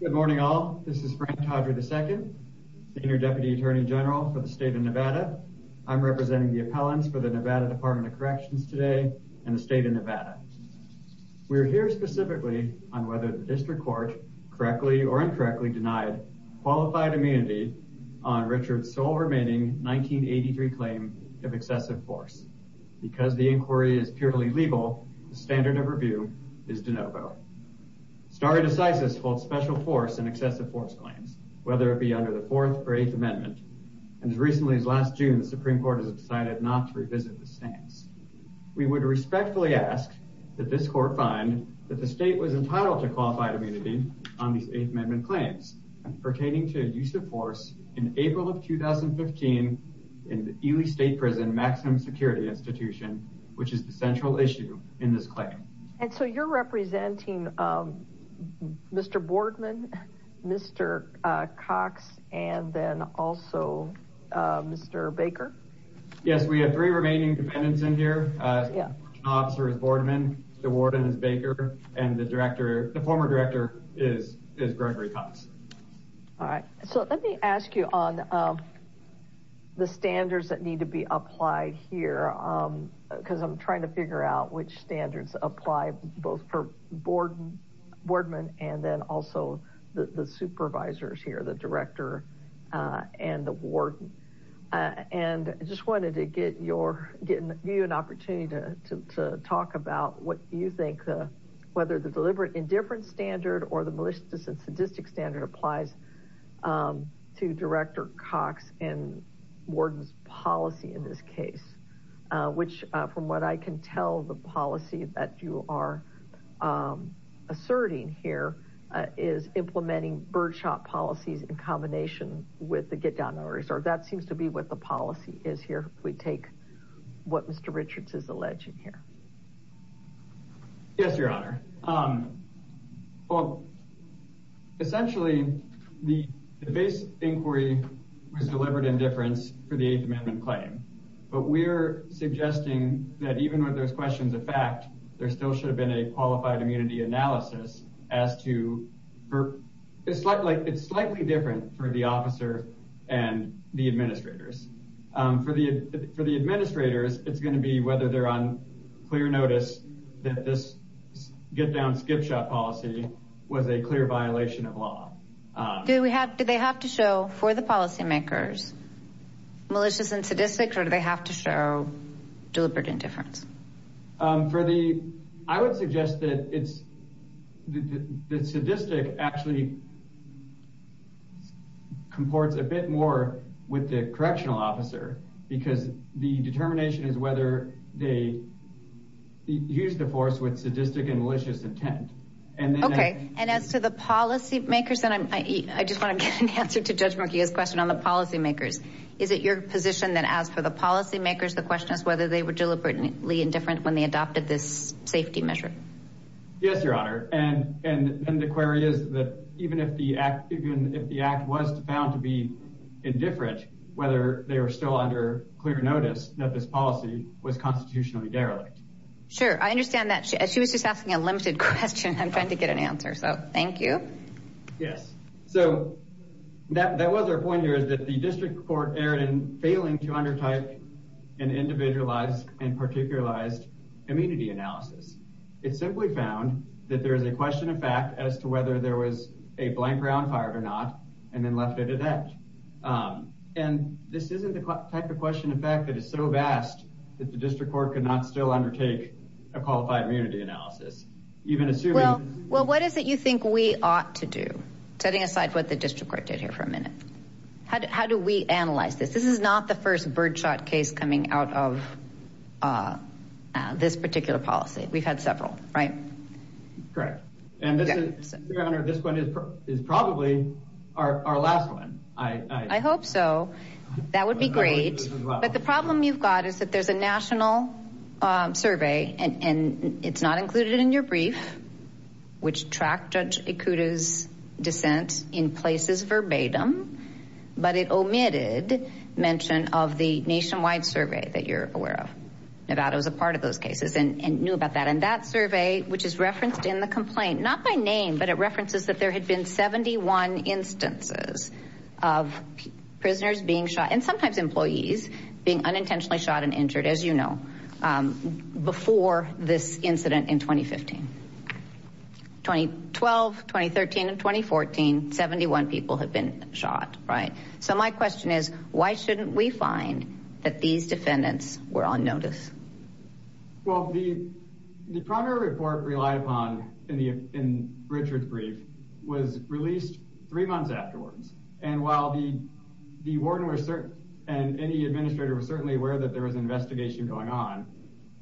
Good morning all. This is Frank Todry II, Senior Deputy Attorney General for the state of Nevada. I'm representing the appellants for the Nevada Department of Corrections today and the state of Nevada. We're here specifically on whether the district court correctly or incorrectly denied qualified immunity on Richard's sole remaining 1983 claim of excessive force. Because the inquiry is purely legal, the standard of review is de novo. Stare decisis holds special force and excessive force claims, whether it be under the 4th or 8th Amendment. And as recently as last June, the Supreme Court has decided not to revisit the stance. We would respectfully ask that this court find that the state was entitled to qualified immunity on these 8th Amendment claims pertaining to use of force in April of 2015 in the Ely State Prison Maximum Security Institution, which is the central issue in this claim. And so you're representing Mr. Boardman, Mr. Cox, and then also Mr. Baker? Yes, we have three remaining defendants in here. Officer is Boardman, the warden is Baker, and the former director is Gregory Cox. All right, so let me ask you on the standards that need to be applied here because I'm trying to figure out which standards apply both for Boardman and then also the supervisors here, the director and the warden. And I just wanted to give you an opportunity to talk about what you think, whether the deliberate indifference standard or the malicious and sadistic standard applies to Director Cox and warden's policy in this case, which from what I can tell the policy that you are asserting here is implementing birdshot policies in combination with the get-down-on-reserve. That seems to be what the policy is here. We take what Mr. Richards is alleging here. Yes, Your Honor. Essentially, the base inquiry was deliberate indifference for the fact there still should have been a qualified immunity analysis. It's slightly different for the officer and the administrators. For the administrators, it's going to be whether they're on clear notice that this get-down-skip-shot policy was a clear violation of law. Do they have to show for the policymakers malicious and sadistic or do they have to show deliberate indifference? I would suggest that the sadistic actually comports a bit more with the correctional officer because the determination is whether they used the force with sadistic and malicious intent. Okay. And as to the policy makers, I just want to get an answer to Judge Murkia's question on the policy makers. Is it your position that as for the policy makers, the question is whether they were deliberately indifferent when they adopted this safety measure? Yes, Your Honor. And the query is that even if the act was found to be indifferent, whether they were still under clear notice that this policy was constitutionally derelict. Sure. I understand that. She was just asking a limited question. I'm trying to get an answer. So thank you. Yes. So that was our point is that the district court erred in failing to undertake an individualized and particularized immunity analysis. It simply found that there is a question of fact as to whether there was a blank round fired or not and then left it at that. And this isn't the type of question in fact that is so vast that the district court could not still undertake a qualified immunity analysis even assuming. Well, what is it you think we ought to do? Setting aside what the district court did here for a minute. How do we analyze this? This is not the first birdshot case coming out of this particular policy. We've had several, right? Correct. And this one is probably our last one. I hope so. That would be great. But the problem you've got is that there's a national survey and it's not included in your brief, which tracked Judge Ikuda's dissent in places verbatim, but it omitted mention of the nationwide survey that you're aware of. Nevada was a part of those cases and knew about that. And that survey, which is referenced in the complaint, not by name, but it references that there had been 71 instances of prisoners being shot and sometimes employees being unintentionally shot and injured, as you know, before this incident in 2015. 2012, 2013, and 2014, 71 people had been shot, right? So my question is, why shouldn't we find that these defendants were on notice? Well, the primary report relied upon in Richard's brief was released three months afterwards. And while the warden and any administrator was certainly aware that there was an investigation going on,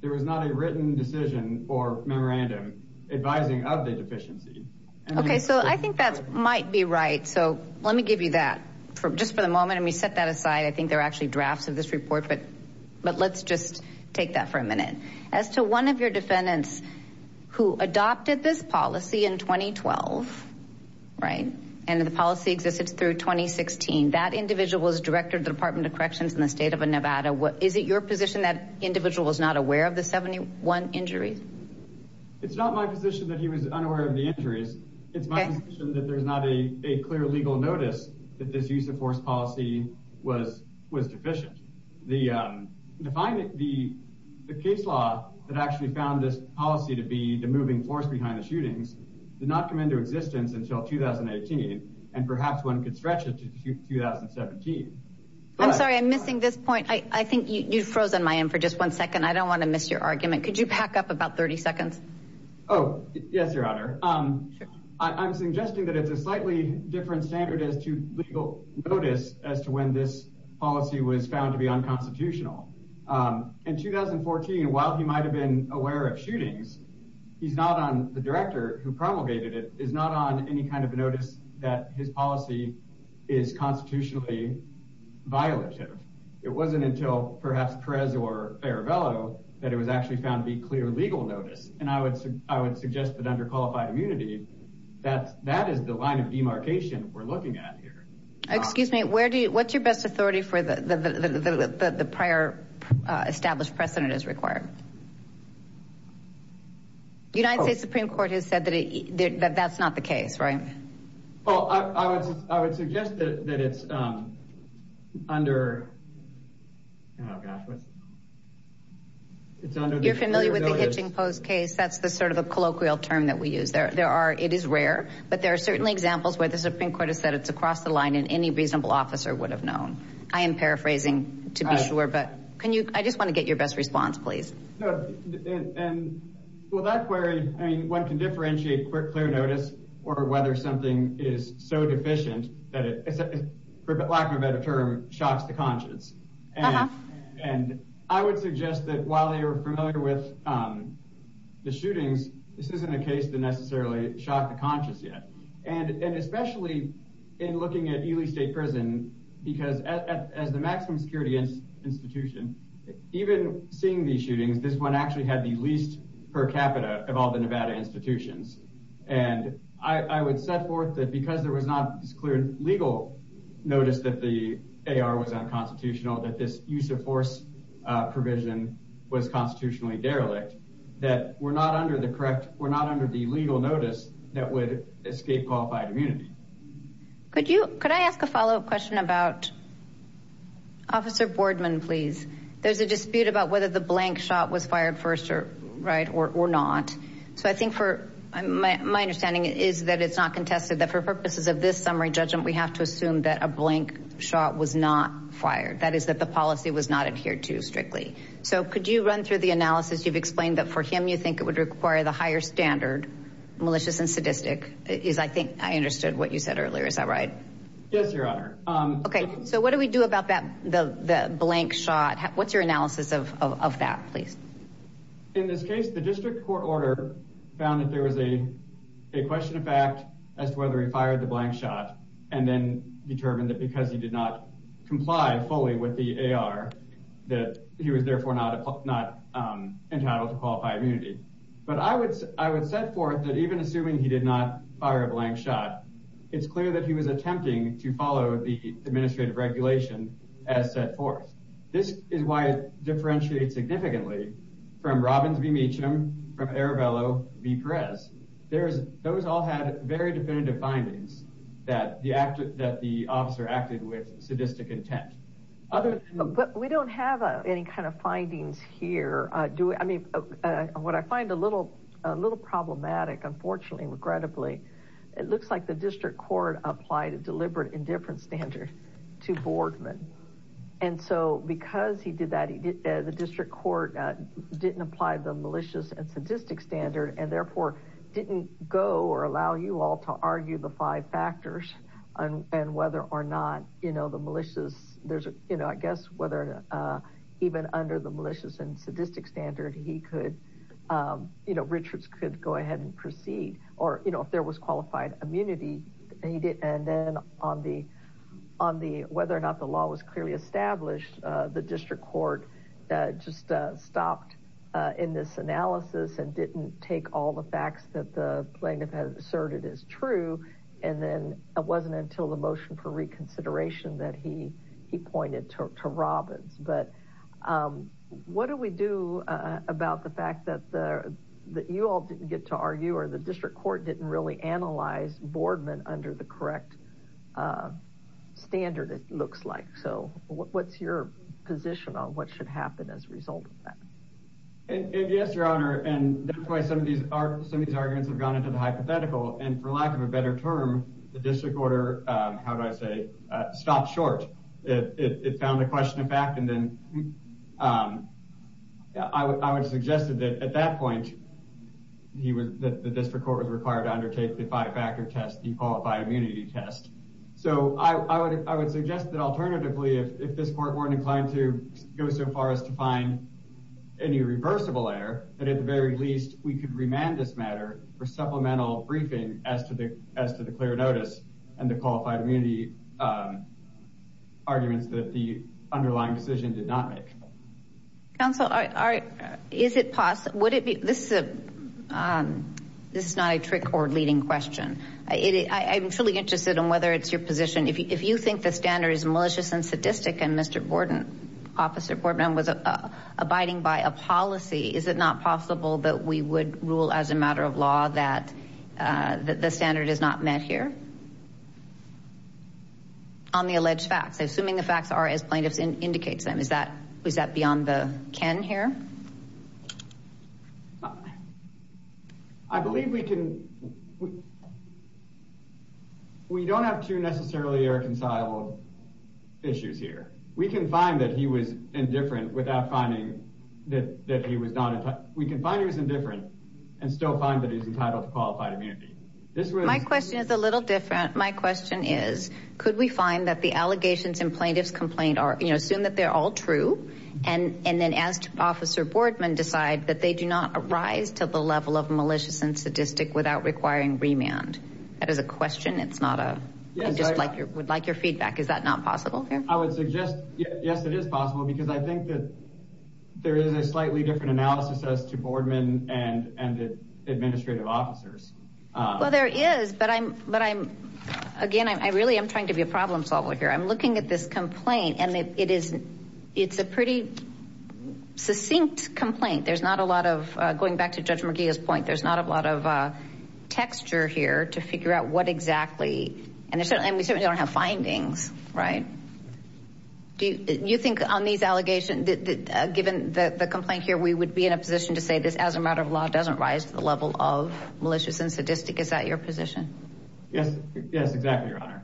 there was not a written decision or memorandum advising of the deficiency. Okay. So I think that might be right. So let me give you that for just for the moment. And we set that aside. I think there are actually drafts of this report, but let's just take that for a minute. As to one of your defendants who adopted this policy in 2012, right? And the policy existed through 2016. That individual was director of the Department of Corrections in the state of Nevada. Is it your position that individual was not aware of the 71 injuries? It's not my position that he was unaware of the injuries. It's my position that there's not a clear legal notice that this use of force policy was deficient. The case law that actually found this policy to be the moving force behind the shootings did not come into existence until 2018. And perhaps one could stretch it to 2017. I'm sorry, I'm missing this point. I think you've frozen my end for just one second. I don't want to miss your argument. Could you pack up about 30 seconds? Oh, yes, Your Honor. I'm suggesting that it's a slightly different standard as to legal notice as to when this policy was found to be unconstitutional. In 2014, while he might have been aware of shootings, he's not on the promulgated. It is not on any kind of notice that his policy is constitutionally violative. It wasn't until perhaps Perez or Arabello that it was actually found to be clear legal notice. And I would I would suggest that under qualified immunity that that is the line of demarcation we're looking at here. Excuse me, where do you what's your best authority for the prior established precedent is required? The United States Supreme Court has said that that's not the case, right? Well, I would I would suggest that it's under. It's under you're familiar with the hitching post case, that's the sort of a colloquial term that we use there. There are it is rare, but there are certainly examples where the Supreme Court has said it's across the line and any reasonable officer would have known. I am paraphrasing to be sure. But can you I just want to get your best response, please. And well, that's where I mean, one can differentiate clear notice or whether something is so deficient that it's a lack of better term shocks the conscience. And I would suggest that while they are familiar with the shootings, this isn't a case to necessarily shock the conscience yet. And especially in looking at Ely State Prison, because as the maximum security institution, even seeing the shootings, this one actually had the least per capita of all the Nevada institutions. And I would set forth that because there was not clear legal notice that the AR was unconstitutional, that this use of force provision was constitutionally derelict, that we're not under the correct. We're not under the legal notice that would escape qualified immunity. Could you could I ask a follow up question about Officer Boardman, please. There's a dispute about whether the blank shot was fired first or right or not. So I think for my understanding is that it's not contested that for purposes of this summary judgment, we have to assume that a blank shot was not fired. That is that the policy was not adhered to strictly. So could you run through the analysis? You've explained that for him, you think it would require the higher standard malicious and sadistic is I think I understood what you said earlier. Is that right? Yes, Your Honor. OK, so what do we do about that? The blank shot? What's your analysis of that, please? In this case, the district court order found that there was a question of fact as to whether he fired the blank shot and then determined that because he did not comply fully with the AR, that he was therefore not not entitled to qualify immunity. But I would I would set forth that even assuming he did not fire a blank shot, it's clear that he was attempting to follow the administrative regulation as set forth. This is why it differentiates significantly from Robbins v. Meacham, from Aravello v. Perez. Those all had very definitive findings that the officer acted with sadistic intent. But we don't have any kind of findings here. I mean, what I find a little a little problematic, unfortunately, regrettably, it looks like the district court applied a deliberate indifference standard to Boardman. And so because he did that, the district court didn't apply the malicious and sadistic standard and therefore didn't go or allow you all to argue the five factors and whether or not, you know, the malicious there's a you know, I guess whether even under the malicious and sadistic standard, he could, you know, Richards could go ahead and proceed or, you know, if there was qualified immunity, he did. And then on the on the whether or not the law was clearly established, the district court just stopped in this analysis and didn't take all the facts that the plaintiff had asserted is true. And then it wasn't until the motion for reconsideration that he he pointed to Robbins. But what do we do about the fact that that you all didn't get to argue or the district court didn't really analyze Boardman under the correct standard, it looks like. So what's your position on what should happen as a result of that? Yes, your honor. And that's why some of these are some of these arguments have gone into the hypothetical. And for lack of a better term, the district order. How do I say stop short? It found a question of fact. And then I would suggest that at that point he was that the district court was required to undertake the five factor test, the qualified immunity test. So I would I would suggest that alternatively, if this court weren't inclined to go so far as to find any reversible error, that at the very least we could remand this matter for supplemental briefing as to the as to the clear notice and the qualified immunity arguments that the underlying decision did not make. Counsel, is it possible? Would it be? This is a this is not a trick or leading question. I'm truly interested in whether it's your position. If you think the standard is malicious and sadistic and Mr. Borden, Officer Borden was abiding by a policy, is it not possible that we would rule as a matter of law that the standard is not met here? On the alleged facts, assuming the facts are, as plaintiffs indicates them, is that is that beyond the can here? I believe we can. We don't have to necessarily irreconcilable issues here. We can find that he was indifferent without finding that he was not. We can find he was indifferent and still find that he's entitled to qualified immunity. This was my question is a little different. My question is, could we find that the allegations in plaintiff's complaint are, you know, assume that they're all true and and then asked Officer Bordman decide that they do not arise to the level of malicious and sadistic without requiring remand? That is a question. It's not a just like you would like your feedback. Is that not possible? I would suggest, yes, it is possible because I think there is a slightly different analysis as to Bordman and and the administrative officers. Well, there is, but I'm but I'm again, I really am trying to be a problem solver here. I'm looking at this complaint and it is it's a pretty succinct complaint. There's not a lot of going back to Judge McGee's point. There's not a lot of texture here to figure out what exactly. And there's certainly and we certainly don't have findings, right? Do you think on these allegations that given the complaint here, we would be in a position to say this as a matter of law doesn't rise to the level of malicious and sadistic? Is that your position? Yes. Yes, exactly, Your Honor.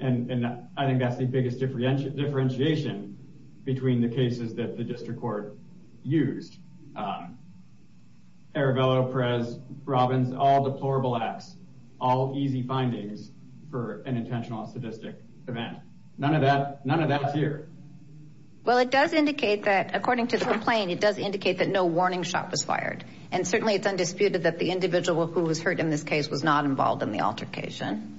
And I think that's the biggest differentiation between the cases that District Court used. Arabella, Perez, Robbins, all deplorable acts, all easy findings for an intentional and sadistic event. None of that, none of that's here. Well, it does indicate that according to the complaint, it does indicate that no warning shot was fired. And certainly it's undisputed that the individual who was hurt in this case was not involved in the altercation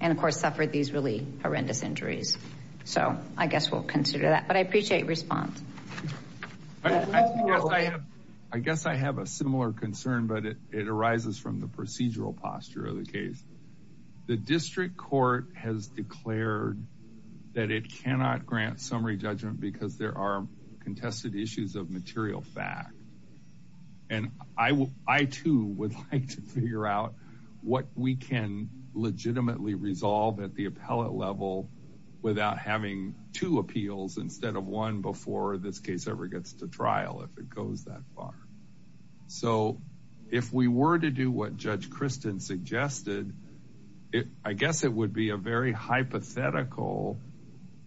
and of course suffered these really horrendous injuries. So I guess we'll consider that, but I appreciate your response. I guess I have a similar concern, but it arises from the procedural posture of the case. The District Court has declared that it cannot grant summary judgment because there are contested issues of material fact. And I too would like to figure out what we can legitimately resolve at the appellate level without having two appeals instead of one before this case ever gets to trial if it goes that far. So if we were to do what Judge Kristen suggested, I guess it would be a very hypothetical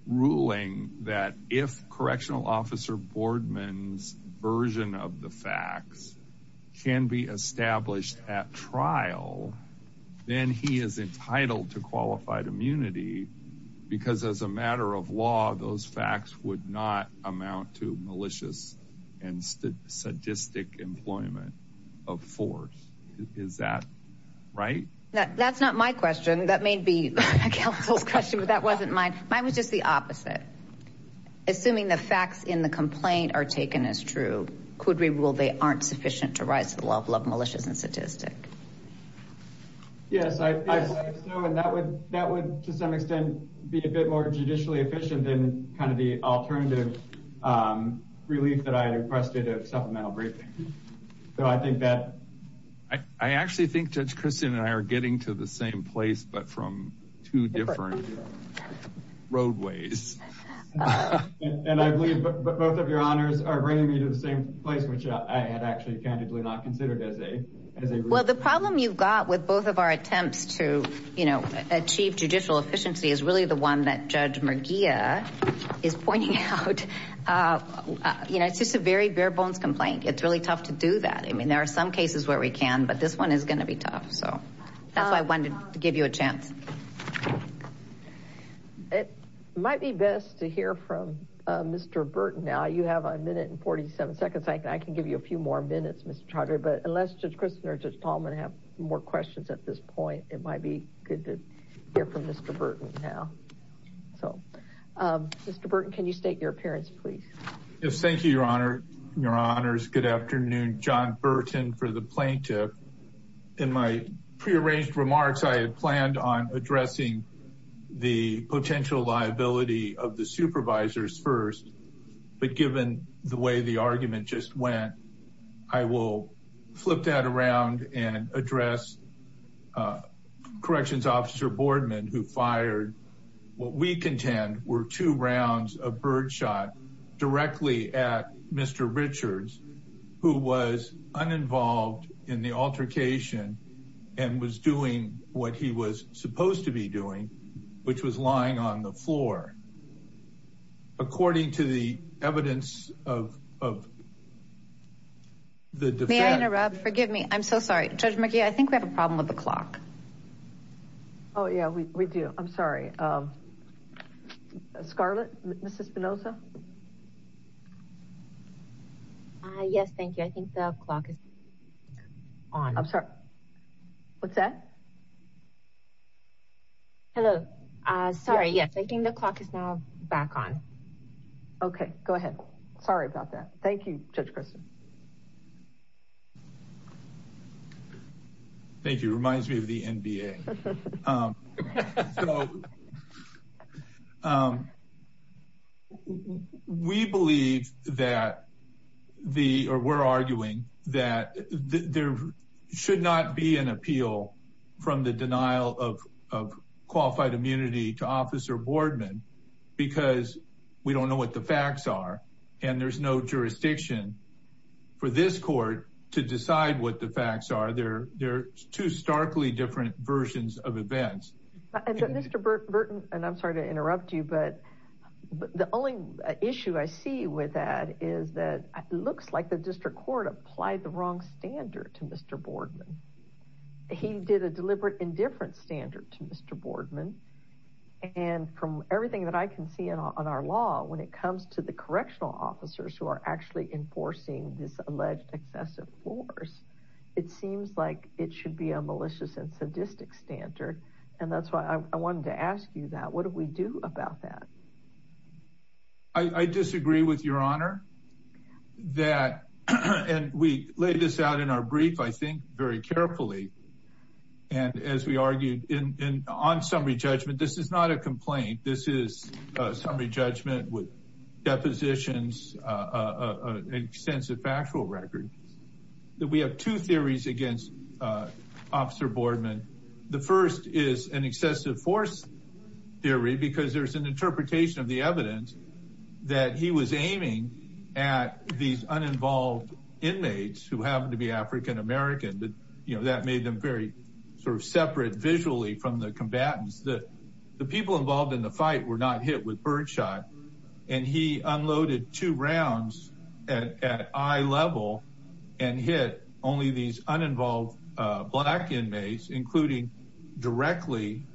ruling that if Correctional Officer Boardman's version of the facts can be established at trial, then he is entitled to qualified immunity because as a matter of law, those facts would not amount to malicious and sadistic employment of force. Is that right? That's not my question. That may be a counsel's question, but that wasn't mine. Mine was just the opposite. Assuming the facts in the complaint are taken as true, could we rule they aren't sufficient to rise to the level of malicious and sadistic? Yes, I feel like so, and that would to some extent be a bit more judicially efficient than kind of the alternative relief that I had requested of supplemental briefing. So I think that I actually think Judge Kristen and I are getting to the same place, but from two different roadways. And I believe both of your honors are bringing me to the same place, which I had actually candidly not considered as a... Well, the problem you've got with both of our attempts to achieve judicial efficiency is really the one that Judge Mergia is pointing out. You know, it's just a very bare bones complaint. It's really tough to do that. I mean, there are some cases where we can, but this one is going to be tough. So that's why I wanted to give you a chance. It might be best to hear from Mr. Burton now. You have a minute and 47 seconds. I can give you a few more minutes, Mr. Trotter, but unless Judge Kristen or Judge Tallman have more questions at this point, it might be good to hear from Mr. Burton now. So Mr. Burton, can you state your appearance, please? Yes, thank you, Your Honor. Your Honors. Good afternoon. John Burton for the plaintiff. In my prearranged remarks, I had planned on addressing the potential liability of the supervisors first, but given the way the argument just went, I will flip that around and address Corrections Officer Boardman, who fired what we contend were two rounds of birdshot directly at Mr. Richards, who was uninvolved in the altercation and was doing what he was supposed to be doing, which was lying on the floor. According to the evidence of the defense... May I interrupt? Forgive me. I'm so sorry. Judge McGee, I think we have a problem with the clock. Oh, yeah, we do. I'm sorry. Scarlett, Mrs. Spinoza? Yes, thank you. I think the clock is on. I'm sorry. What's that? Hello. Sorry. Yes, I think the clock is now back on. Okay, go ahead. Sorry about that. Thank you, Judge Preston. Thank you. Reminds me of the NBA. We believe that the, or we're arguing that there should not be an appeal from the denial of qualified immunity to Officer Boardman because we don't know what the facts are and there's no jurisdiction for this court to decide what the facts are. They're two starkly different versions of events. Mr. Burton, and I'm sorry to interrupt you, but the only issue I see with that is that it looks like the district court applied the wrong standard to Mr. Boardman. He did a deliberate indifference standard to Mr. Boardman and from everything that I can see in on our law when it comes to the correctional officers who are actually enforcing this alleged excessive force, it seems like it should be a malicious and sadistic standard, and that's why I wanted to ask you that. What do we do about that? I disagree with your honor that, and we laid this out in our brief, I think very carefully, and as we argued on summary judgment, this is not a complaint. This is a summary judgment with depositions, an extensive factual record that we have two theories against Officer Boardman. The first is an excessive force theory because there's an interpretation of the evidence that he was aiming at these uninvolved inmates who happen to be African American, but that made them very sort of separate visually from the combatants. The people involved in the fight were not hit with birdshot, and he unloaded two rounds at eye level and hit only these uninvolved black inmates, including directly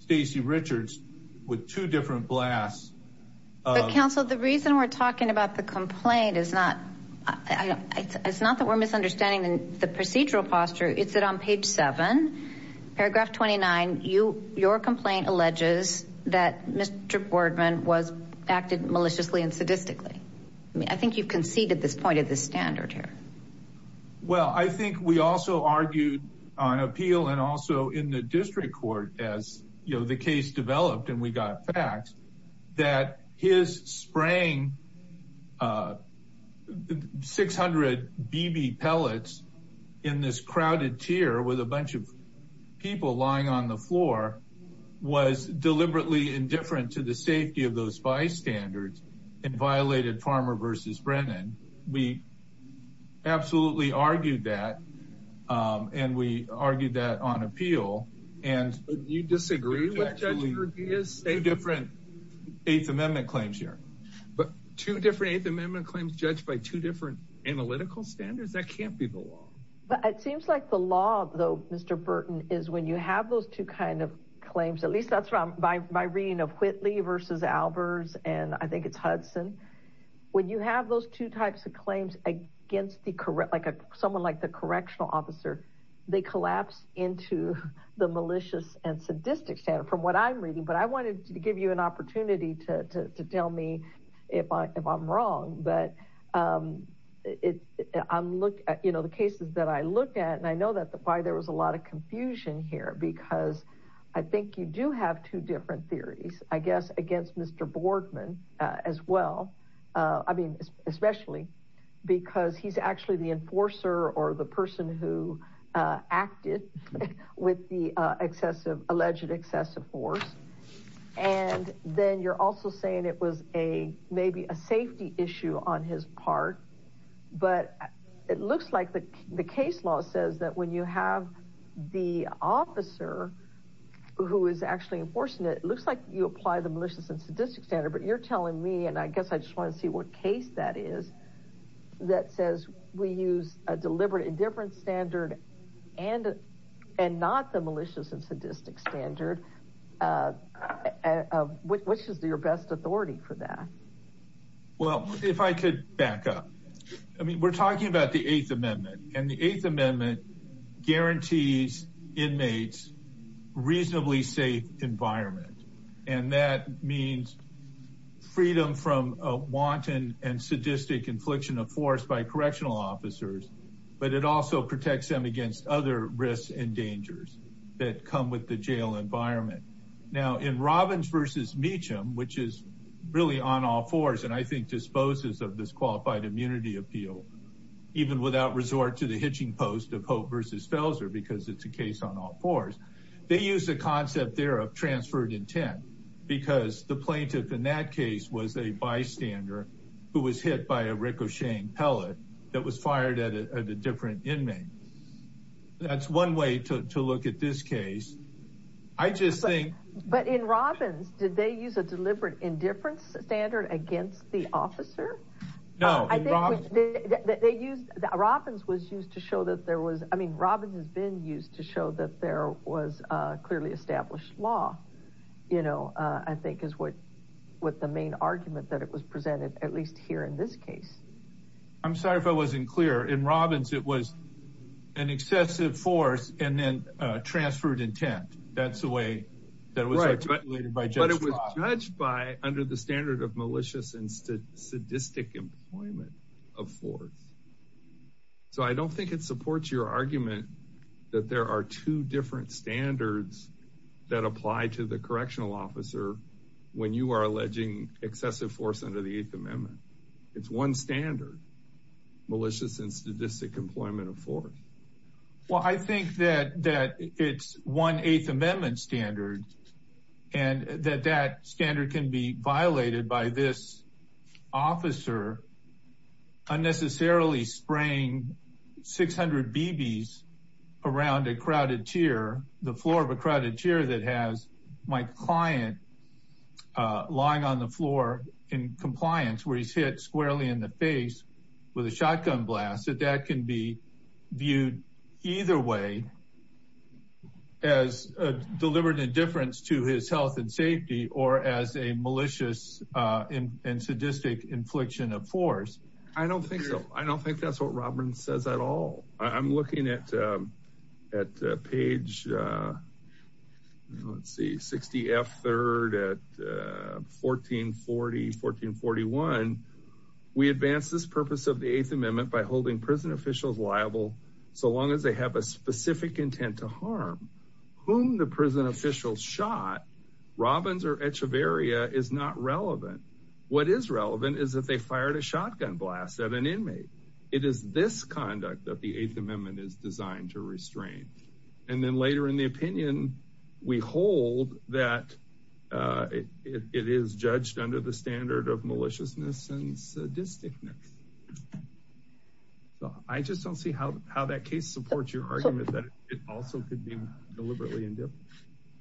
Stacey Richards with two different blasts. But counsel, the reason we're talking about the complaint is not that we're misunderstanding the procedural posture. It's that on page seven, paragraph 29, your complaint alleges that Mr. Boardman was acted maliciously and sadistically. I mean, I think you've conceded this point of the standard here. Well, I think we also argued on appeal and also in the district court as, you know, the case developed and we got facts that his spraying 600 BB pellets in this crowded tier with a bunch of people lying on the floor was deliberately indifferent to the safety of those bystanders and violated Farmer v. Brennan. We absolutely argued that, and we argued that on appeal. You disagree with Judge Gervias? Eight different Eighth Amendment claims here. But two different Eighth Amendment claims judged by two different analytical standards? That can't be the law. But it seems like the law, though, Mr. Burton, is when you have those two kind of claims, at least that's from my reading of Whitley v. Albers and I think it's Hudson. When you have those two types of claims against someone like the correctional officer, they collapse into the malicious and sadistic standard from what I'm reading. But I wanted to give you an opportunity to tell me if I'm wrong, but the cases that I look at, and I know why there was a lot of confusion here, because I think you do have two different theories, I guess, against Mr. Boardman as well. I mean, especially because he's actually the enforcer or the person who acted with the alleged excessive force. And then you're also saying it was maybe a safety issue on his part. But it looks like the case law says that when you have the officer who is actually enforcing it, looks like you apply the malicious and sadistic standard. But you're telling me, and I guess I just want to see what case that is, that says we use a deliberate indifference standard and not the malicious and sadistic standard. Which is your best authority for that? Well, if I could back up. I mean, we're talking about the Eighth Amendment. And the Eighth Amendment guarantees inmates reasonably safe environment. And that means freedom from a wanton and sadistic infliction of force by correctional officers. But it also protects them against other risks and dangers that come with the jail environment. Now, in Robbins v. Meacham, which is really on all fours, and I think disposes of this qualified immunity appeal, even without resort to the hitching post of Hope v. Because it's a case on all fours. They use the concept there of transferred intent. Because the plaintiff in that case was a bystander who was hit by a ricocheting pellet that was fired at a different inmate. That's one way to look at this case. I just think. But in Robbins, did they use a deliberate indifference standard against the officer? No. I think Robbins was used to show that there was. I mean, Robbins has been used to show that there was clearly established law. You know, I think is what the main argument that it was presented, at least here in this case. I'm sorry if I wasn't clear. In Robbins, it was an excessive force and then transferred intent. That's the way that was articulated. But it was judged by under the standard of malicious and sadistic employment. Of course. So I don't think it supports your argument that there are two different standards. That apply to the correctional officer. When you are alleging excessive force under the 8th Amendment. It's one standard. Malicious and sadistic employment of force. Well, I think that that it's one 8th Amendment standard. And that that standard can be violated by this. Officer unnecessarily spraying 600 BBs around a crowded chair. The floor of a crowded chair that has my client lying on the floor in compliance. Where he's hit squarely in the face with a shotgun blast. That that can be viewed either way. As a deliberate indifference to his health and safety. Or as a malicious and sadistic infliction of force. I don't think so. I don't think that's what Robbins says at all. I'm looking at at page. Let's see 60 F third at 1440 1441. We advance this purpose of the 8th Amendment by holding prison officials liable. So long as they have a specific intent to harm. Whom the prison officials shot. Robbins or Echeverria is not relevant. What is relevant is that they fired a shotgun blast at an inmate. It is this conduct that the 8th Amendment is designed to restrain. And then later in the opinion. We hold that it is judged under the standard of maliciousness and sadisticness. So I just don't see how that case supports your argument. That it also could be deliberately indifferent.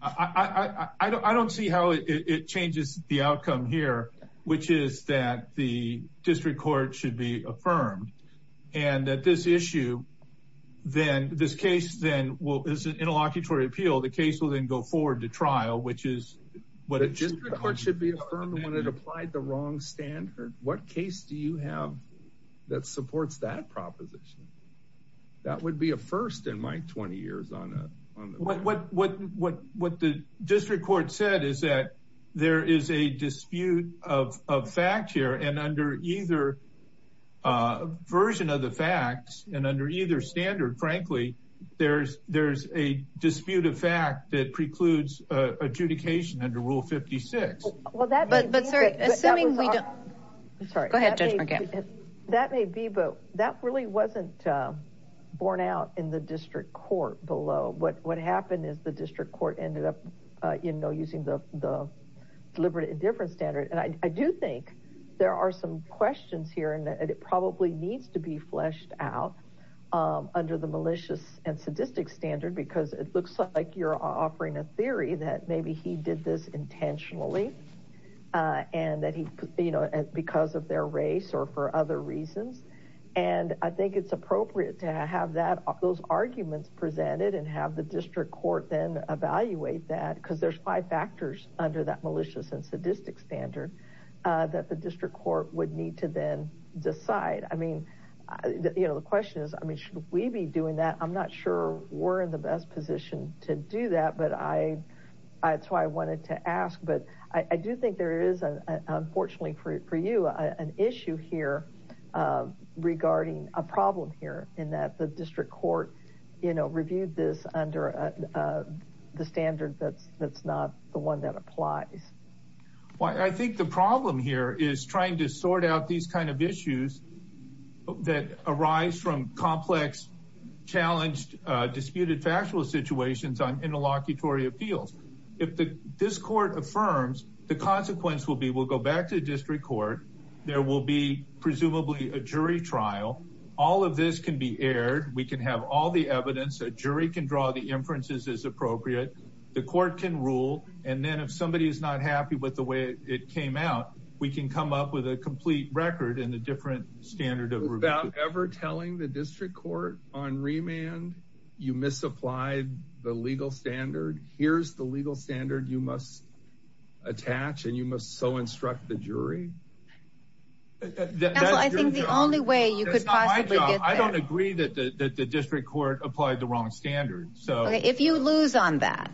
I don't see how it changes the outcome here. Which is that the district court should be affirmed. And that this issue. Then this case then will is an interlocutory appeal. The case will then go forward to trial. Which is what a district court should be. Affirmed when it applied the wrong standard. What case do you have that supports that proposition? That would be a first in my 20 years on a. What the district court said is that. There is a dispute of fact here. And under either version of the facts. And under either standard frankly. There's a dispute of fact that precludes adjudication under Rule 56. Well that. But sir. Assuming we don't. Sorry. That may be. But that really wasn't borne out in the district court below. What happened is the district court. Ended up using the deliberate indifference standard. And I do think there are some questions here. And that it probably needs to be fleshed out. Under the malicious and sadistic standard. Because it looks like you're offering a theory. That maybe he did this intentionally. And that he because of their race or for other reasons. And I think it's appropriate to have that. Those arguments presented. And have the district court then evaluate that. Because there's five factors under that malicious and sadistic standard. That the district court would need to then decide. I mean you know the question is. I mean should we be doing that? I'm not sure we're in the best position to do that. But I that's why I wanted to ask. But I do think there is an unfortunately for you. An issue here. Regarding a problem here. In that the district court you know. Reviewed this under the standard. That's that's not the one that applies. Well I think the problem here. Is trying to sort out these kind of issues. That arise from complex. Challenged disputed factual situations. On interlocutory appeals. If the this court affirms. The consequence will be. We'll go back to the district court. There will be presumably a jury trial. All of this can be aired. We can have all the evidence. A jury can draw the inferences as appropriate. The court can rule. And then if somebody is not happy. With the way it came out. We can come up with a complete record. In the different standard of review. Without ever telling the district court. On remand you misapplied the legal standard. Here's the legal standard you must. Attach and you must so instruct the jury. I think the only way you could possibly. I don't agree that the district court. Applied the wrong standard. So if you lose on that.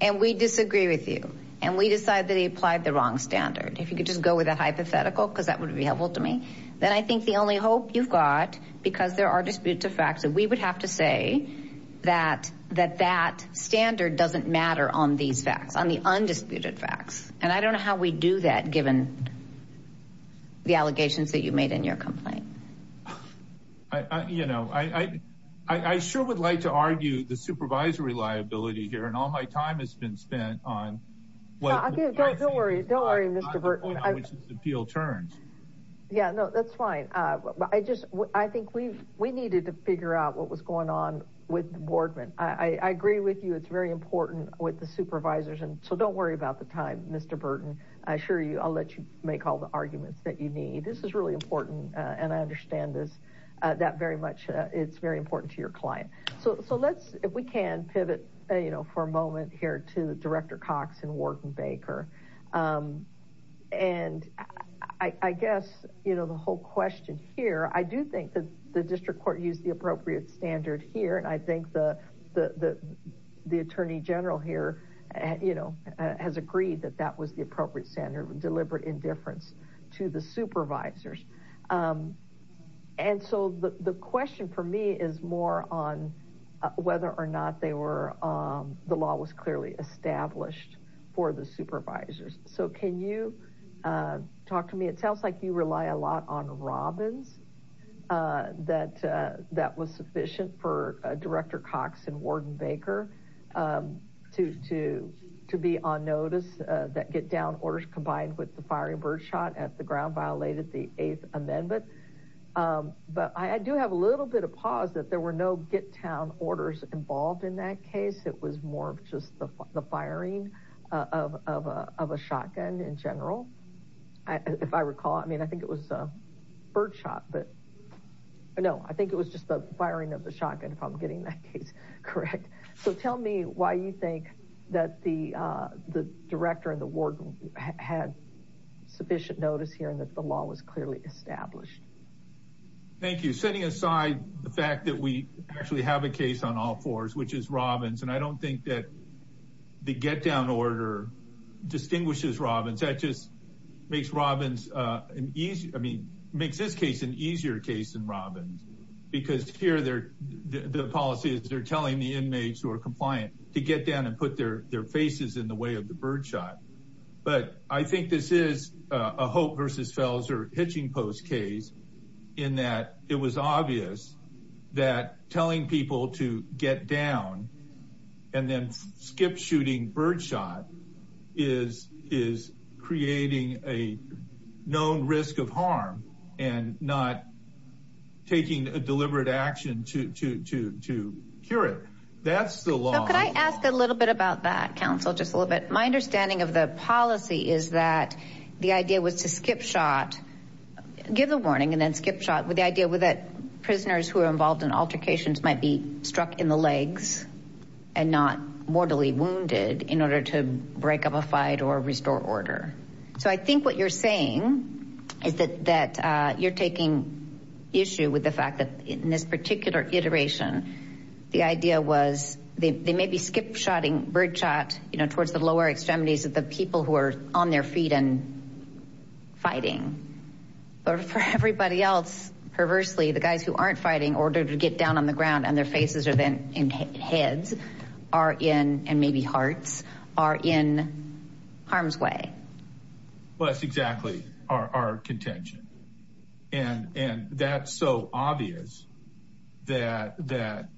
And we disagree with you. And we decide that he applied the wrong standard. If you could just go with a hypothetical. Because that would be helpful to me. Then I think the only hope you've got. Because there are disputed facts. That we would have to say. That that that standard doesn't matter. On these facts on the undisputed facts. And I don't know how we do that. Given the allegations. That you made in your complaint. You know I I sure would like to argue. The supervisory liability here. And all my time has been spent on. Well don't worry don't worry. Mr Burton appeal turns. Yeah no that's fine. I just I think we've. We needed to figure out. What was going on with the boardman. I agree with you. It's very important with the supervisors. And so don't worry about the time. Mr Burton. I assure you I'll let you. Make all the arguments that you need. This is really important. And I understand this. That very much. It's very important to your client. So so let's if we can pivot. You know for a moment here to. Director Cox and Warden Baker. And I I guess. You know the whole question here. I do think that the district court. Used the appropriate standard here. And I think the the the. The attorney general here. You know has agreed. That that was the appropriate standard. Deliberate indifference. To the supervisors. And so the question for me. Is more on. Whether or not they were. The law was clearly established. For the supervisors. So can you. Talk to me it sounds like. You rely a lot on Robbins. That that was sufficient for. Director Cox and Warden Baker. To to to be on notice. That get down orders. Combined with the firing birdshot. At the ground violated. The eighth amendment. But I do have a little bit of pause. That there were no get down. Orders involved in that case. It was more of just the firing. Of a shotgun in general. If I recall. I mean I think it was. Birdshot but. No I think it was just. The firing of the shotgun. If I'm getting that case correct. So tell me why you think. That the the director. And the warden had. Sufficient notice here. And that the law was clearly established. Thank you setting aside. The fact that we actually have. A case on all fours which is Robbins. And I don't think that. The get down order. Distinguishes Robbins that just. Makes Robbins an easy. I mean makes this case. An easier case than Robbins. Because here they're the policies. They're telling the inmates. Who are compliant to get down. And put their their faces. In the way of the birdshot. But I think this is a. Hope versus Felser hitching post case. In that it was obvious. That telling people to get down. And then skip shooting birdshot. Is is creating a. Known risk of harm. And not. Taking a deliberate action. To to to to cure it. That's the law. Could I ask a little bit about that. Counsel just a little bit. My understanding of the policy. Is that the idea was to skip shot. Give the warning and then skip shot. With the idea with that. Prisoners who are involved in altercations. Might be struck in the legs. And not mortally wounded. In order to break up a fight. Or restore order. So I think what you're saying. Is that that you're taking. Issue with the fact that. In this particular iteration. The idea was. They may be skip shotting. Birdshot you know. Towards the lower extremities. Of the people who are on their feet. And fighting. But for everybody else. Perversely the guys who aren't fighting. Order to get down on the ground. And their faces are then in heads. Are in and maybe hearts. Are in harm's way. Well that's exactly our our contention. And and that's so obvious. That that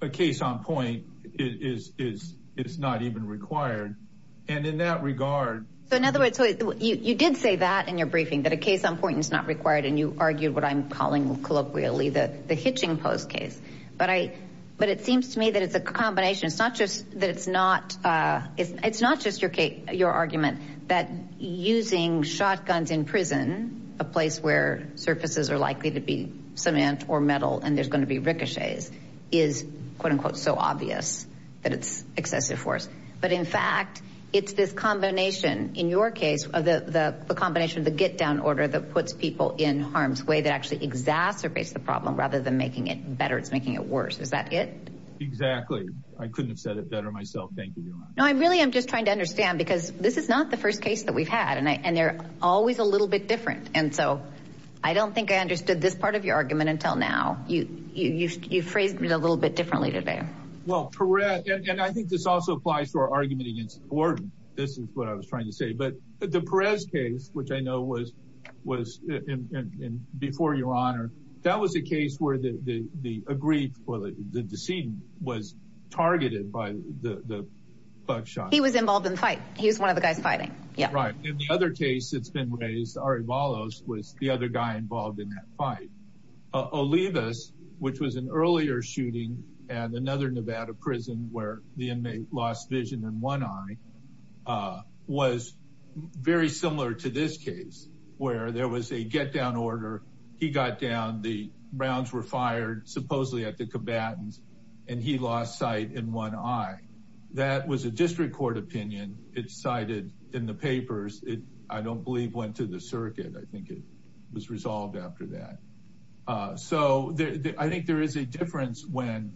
a case on point. Is is it's not even required. And in that regard. So in other words. You did say that in your briefing. That a case on point is not required. And you argued what I'm calling. Colloquially that the hitching post case. But I but it seems to me. That it's a combination. It's not just that it's not. It's it's not just your case. Your argument. That using shotguns in prison. A place where surfaces are likely. To be cement or metal. And there's going to be ricochets. Is quote unquote so obvious. That it's excessive force. But in fact it's this combination. In your case of the the combination. Of the get down order. That puts people in harm's way. That actually exacerbates the problem. Rather than making it better. It's making it worse. Is that it? Exactly. I couldn't have said it better myself. Thank you. No I really I'm just trying to understand. Because this is not the first case. That we've had. And I and they're always. A little bit different. And so I don't think. I understood this part of your argument. Until now. You phrased it a little bit. Differently today. Well Perrette. And I think this also applies. To our argument against Gordon. This is what I was trying to say. But the Perez case. Which I know was was. Before your honor. That was a case. Where the the agreed. Well the the scene was targeted. By the the buckshot. He was involved in the fight. He was one of the guys fighting. Yeah right. In the other case. It's been raised. Ari Ballos was the other guy. Involved in that fight. Olivas. Which was an earlier shooting. And another Nevada prison. Where the inmate lost vision. In one eye. Was very similar to this case. Where there was a get down order. He got down. The rounds were fired. Supposedly at the combatants. And he lost sight. In one eye. That was a district court opinion. It's cited in the papers. It I don't believe. Went to the circuit. I think it was resolved after that. So there I think. There is a difference. When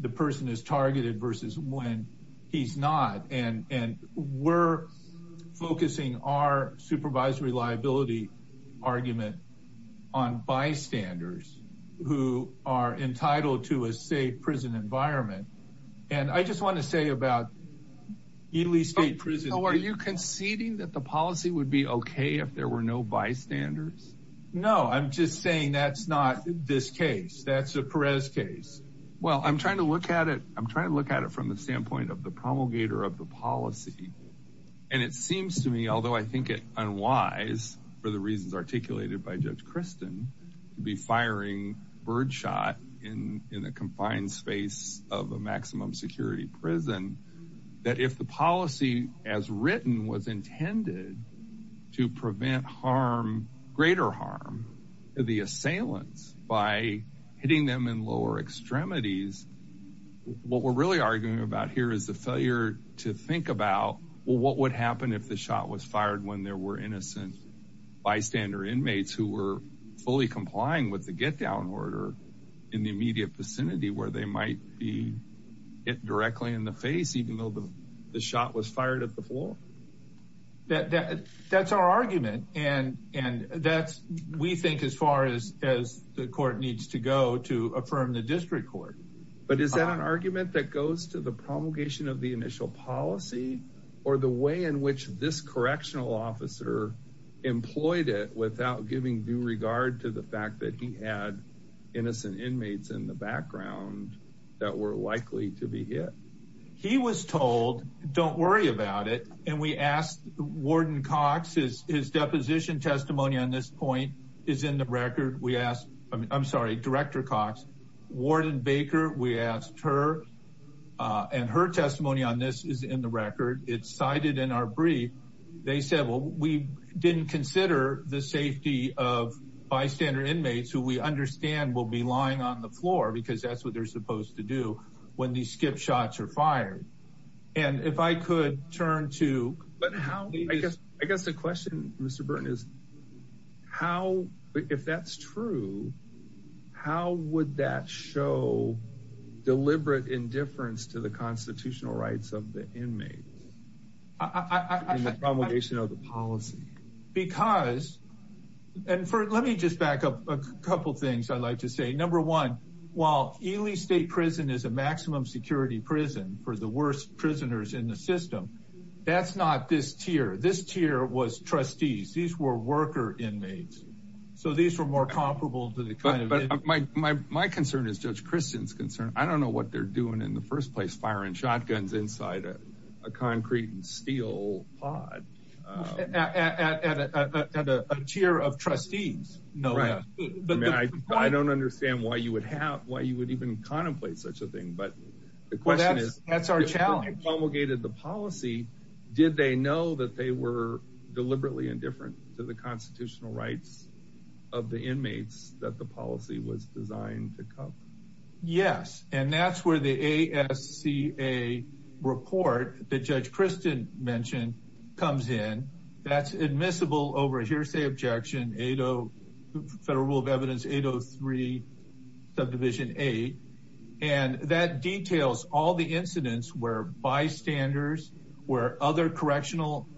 the person is targeted. Versus when he's not. And and we're focusing. Our supervisory liability. Argument on bystanders. Who are entitled. To a safe prison environment. And I just want to say about. Ely state prison. Are you conceding. That the policy would be okay. If there were no bystanders. No, I'm just saying. That's not this case. That's a Perez case. Well, I'm trying to look at it. I'm trying to look at it. From the standpoint. Of the promulgator of the policy. And it seems to me. Although I think it unwise. For the reasons articulated. By Judge Kristen. To be firing birdshot. In in a confined space. Of a maximum security prison. That if the policy. As written was intended. To prevent harm. Greater harm. To the assailants. By hitting them. In lower extremities. What we're really arguing. About here is the failure. To think about. Well, what would happen. If the shot was fired. When there were innocent. Bystander inmates. Who were fully complying. With the get down order. In the immediate vicinity. Where they might be. It directly in the face. Even though the. The shot was fired at the floor. That that's our argument. And and that's. We think as far as. As the court needs to go. To affirm the district court. But is that an argument. That goes to the promulgation. Of the initial policy. Or the way in which. This correctional officer. Employed it. Without giving due regard. To the fact that he had. Innocent inmates. In the background. That were likely to be hit. He was told. Don't worry about it. And we asked. Warden Cox. His deposition testimony. On this point. Is in the record. We asked. I'm sorry. Director Cox. Warden Baker. We asked her. And her testimony. On this is in the record. It's cited in our brief. They said. Well, we didn't consider. The safety of. Bystander inmates. Who we understand. Will be lying on the floor. Because that's what. They're supposed to do. When these skip shots are fired. And if I could. Turn to. But how I guess. I guess the question. Mr Burton is. How if that's true. How would that show. Deliberate indifference. To the constitutional rights. Of the inmates. In the promulgation of the policy. Because. And for. Let me just back up. A couple things. I'd like to say. Number one. While Ely State Prison. Is a maximum security prison. For the worst. Prisoners in the system. That's not this tier. This tier. Was trustees. These were worker inmates. So these were more comparable. To the kind of. But my my. My concern is. Judge Kristen's concern. I don't know what they're doing. In the first place. Firing shotguns inside. A concrete and steel. Pod at a. Tier of trustees. No, right. But I don't understand. Why you would have. Why you would even. Contemplate such a thing. But the question is. That's our challenge. Promulgated the policy. Did they know. That they were. Deliberately indifferent. To the constitutional rights. Of the inmates. That the policy. Was designed to come. Yes. And that's where. The ASCA report. That Judge Kristen. Mentioned. Comes in. That's admissible. Over hearsay objection. 80 federal rule of evidence. 803 subdivision 8. And that details. All the incidents. Where bystanders. Where other. Correctional.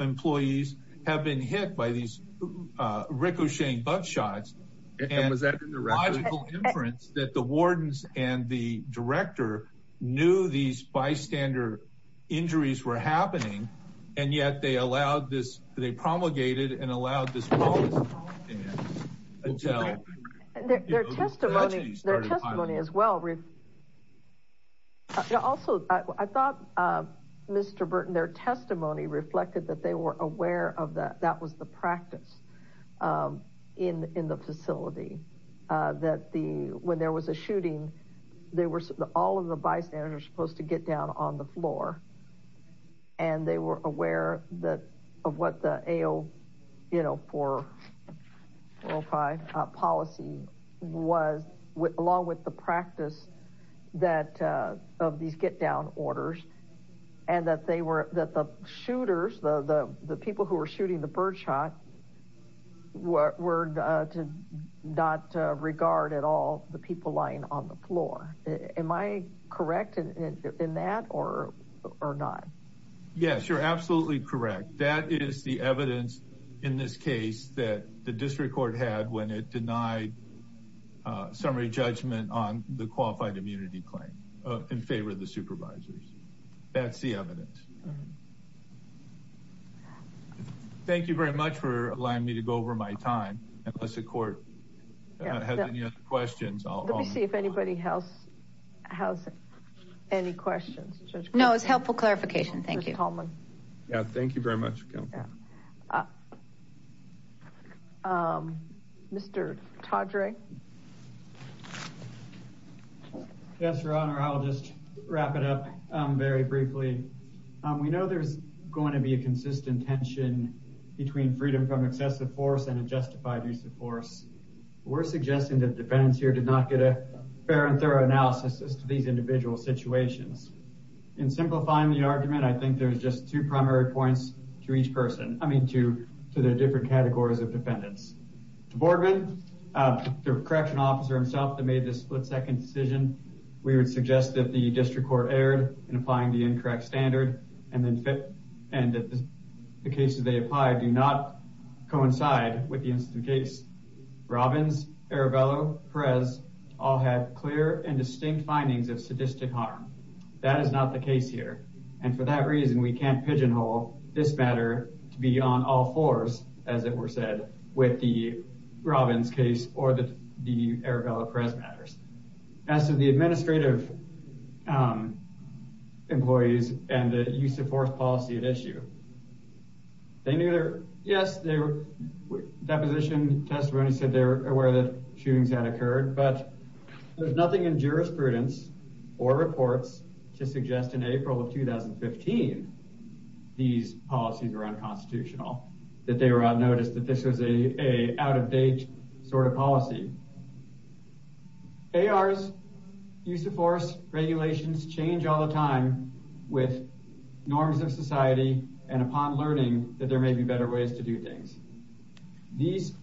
Employees. Have been hit. By these ricocheting. Butt shots. And was that. The logical inference. That the wardens. And the director. Knew these bystander. Injuries were happening. And yet they allowed this. They promulgated. And allowed this. Until their testimony. Their testimony as well. Also. I thought. Mr Burton. Their testimony. Reflected that they were. Aware of that. That was the practice. In in the facility. That the. When there was a shooting. They were. All of the bystanders. Supposed to get down. On the floor. And they were aware. That of what the AO. You know for. 405 policy. Was with. Along with the practice. That. Of these get down. Orders. And that they were. That the. Shooters. The the. The people who were shooting. The birdshot. Were to. Not regard at all. The people lying. On the floor. Am I. Correct in that. Or or not. Yes you're absolutely correct. That is the evidence. In this case. That the district court. Had when it denied. Summary judgment. On the qualified. Immunity claim. In favor of the supervisors. That's the evidence. Thank you very much. For allowing me. To go over my time. Unless the court. Has any other questions. I'll let me see. If anybody else. Has any questions. No it's helpful. Clarification thank you. Yeah thank you very much. Mr Todrick. Yes your honor. I'll just. Wrap it up. Very briefly. We know there's. Going to be a consistent. Tension. Between freedom from excessive. Force and a justified. Use of force. We're suggesting that. Defendants here did not get a. Fair and thorough analysis. As to these individual situations. In simplifying the argument. I think there's just. Two primary points. To each person. I mean to. To the different categories. Of defendants. Boardman. The correction officer himself. Made this split second decision. We would suggest. That the district court. Error in applying. The incorrect standard. And then fit. And the cases they apply. Do not coincide. With the incident case. Robbins Arabella Perez. All had clear and distinct. Findings of sadistic harm. That is not the case here. And for that reason. We can't pigeonhole. This matter. To be on all fours. As it were said. With the Robbins case. Or the Arabella Perez. As to the administrative. Employees. And the use of force. Policy at issue. They knew there. Yes they were. Deposition testimony. Said they were aware. That shootings had occurred. But there's nothing. In jurisprudence. Or reports. To suggest in April of 2015. These policies are unconstitutional. That they were out. Noticed that this was a. Out of date. Sort of policy. A.R.'s. Use of force. Regulations. Change all the time. With. Norms of society. And upon learning. That there may be better ways. To do things. These.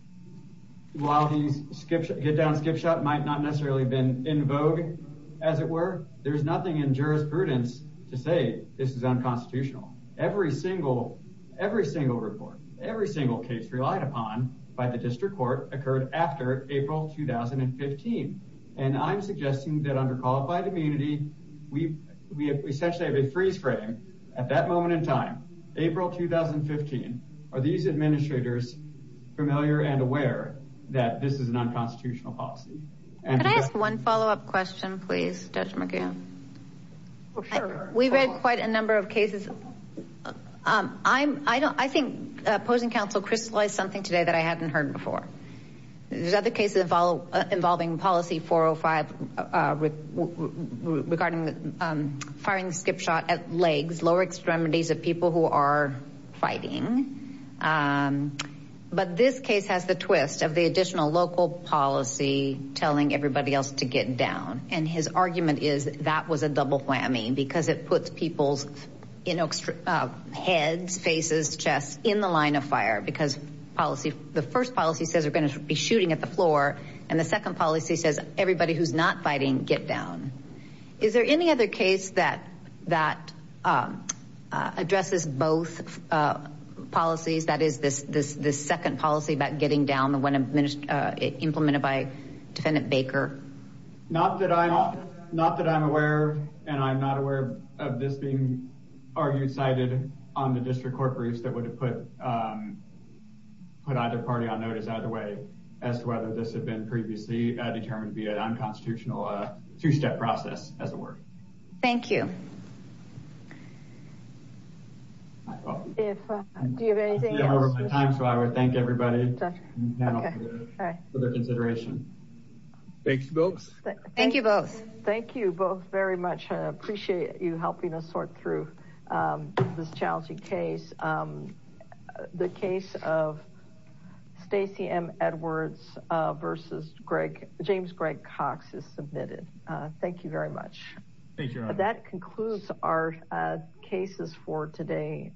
While these. Skip get down skip shot. Might not necessarily been. In vogue. As it were. There's nothing in jurisprudence. To say this is unconstitutional. Every single. Every single report. Every single case relied upon. By the district court. Occurred after April 2015. And I'm suggesting. That under qualified immunity. We we essentially. Have a freeze frame. At that moment in time. April 2015. Are these administrators. Familiar and aware. That this is an unconstitutional policy. And can I ask one follow-up question. Please judge McGinn. We've had quite a number of cases. I'm I don't I think. Opposing counsel crystallized something. Today that I hadn't heard before. There's other cases. Involving policy 405. Regarding the firing. Skip shot at legs. Lower extremities of people. Who are fighting. But this case has the twist. Of the additional local policy. Telling everybody else to get down. And his argument is. That was a double whammy. Because it puts people's. Heads faces. Chests in the line of fire. Because policy. The first policy says. Be shooting at the floor. And the second policy says. Everybody who's not fighting. Get down. Is there any other case. That that. Addresses both. Policies. That is this this. This second policy. About getting down. When a minister. Implemented by. Defendant Baker. Not that I'm. Not that I'm aware. And I'm not aware. Of this being. Argued cited. On the district court. Briefs that would have put. Put either party on notice. As to whether this. Had been previously. Determined to be. An unconstitutional. Two-step process. As it were. Thank you. If. Do you have anything? I don't have time. So I would thank everybody. For their consideration. Thanks folks. Thank you both. Thank you both. Very much. I appreciate you. Helping us sort through. This challenging case. The case of. Stacey M. Edwards. Versus Greg. James Greg Cox. Is submitted. Thank you very much. That concludes our. Cases for today.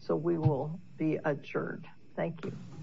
So we will. Be adjourned. Thank you.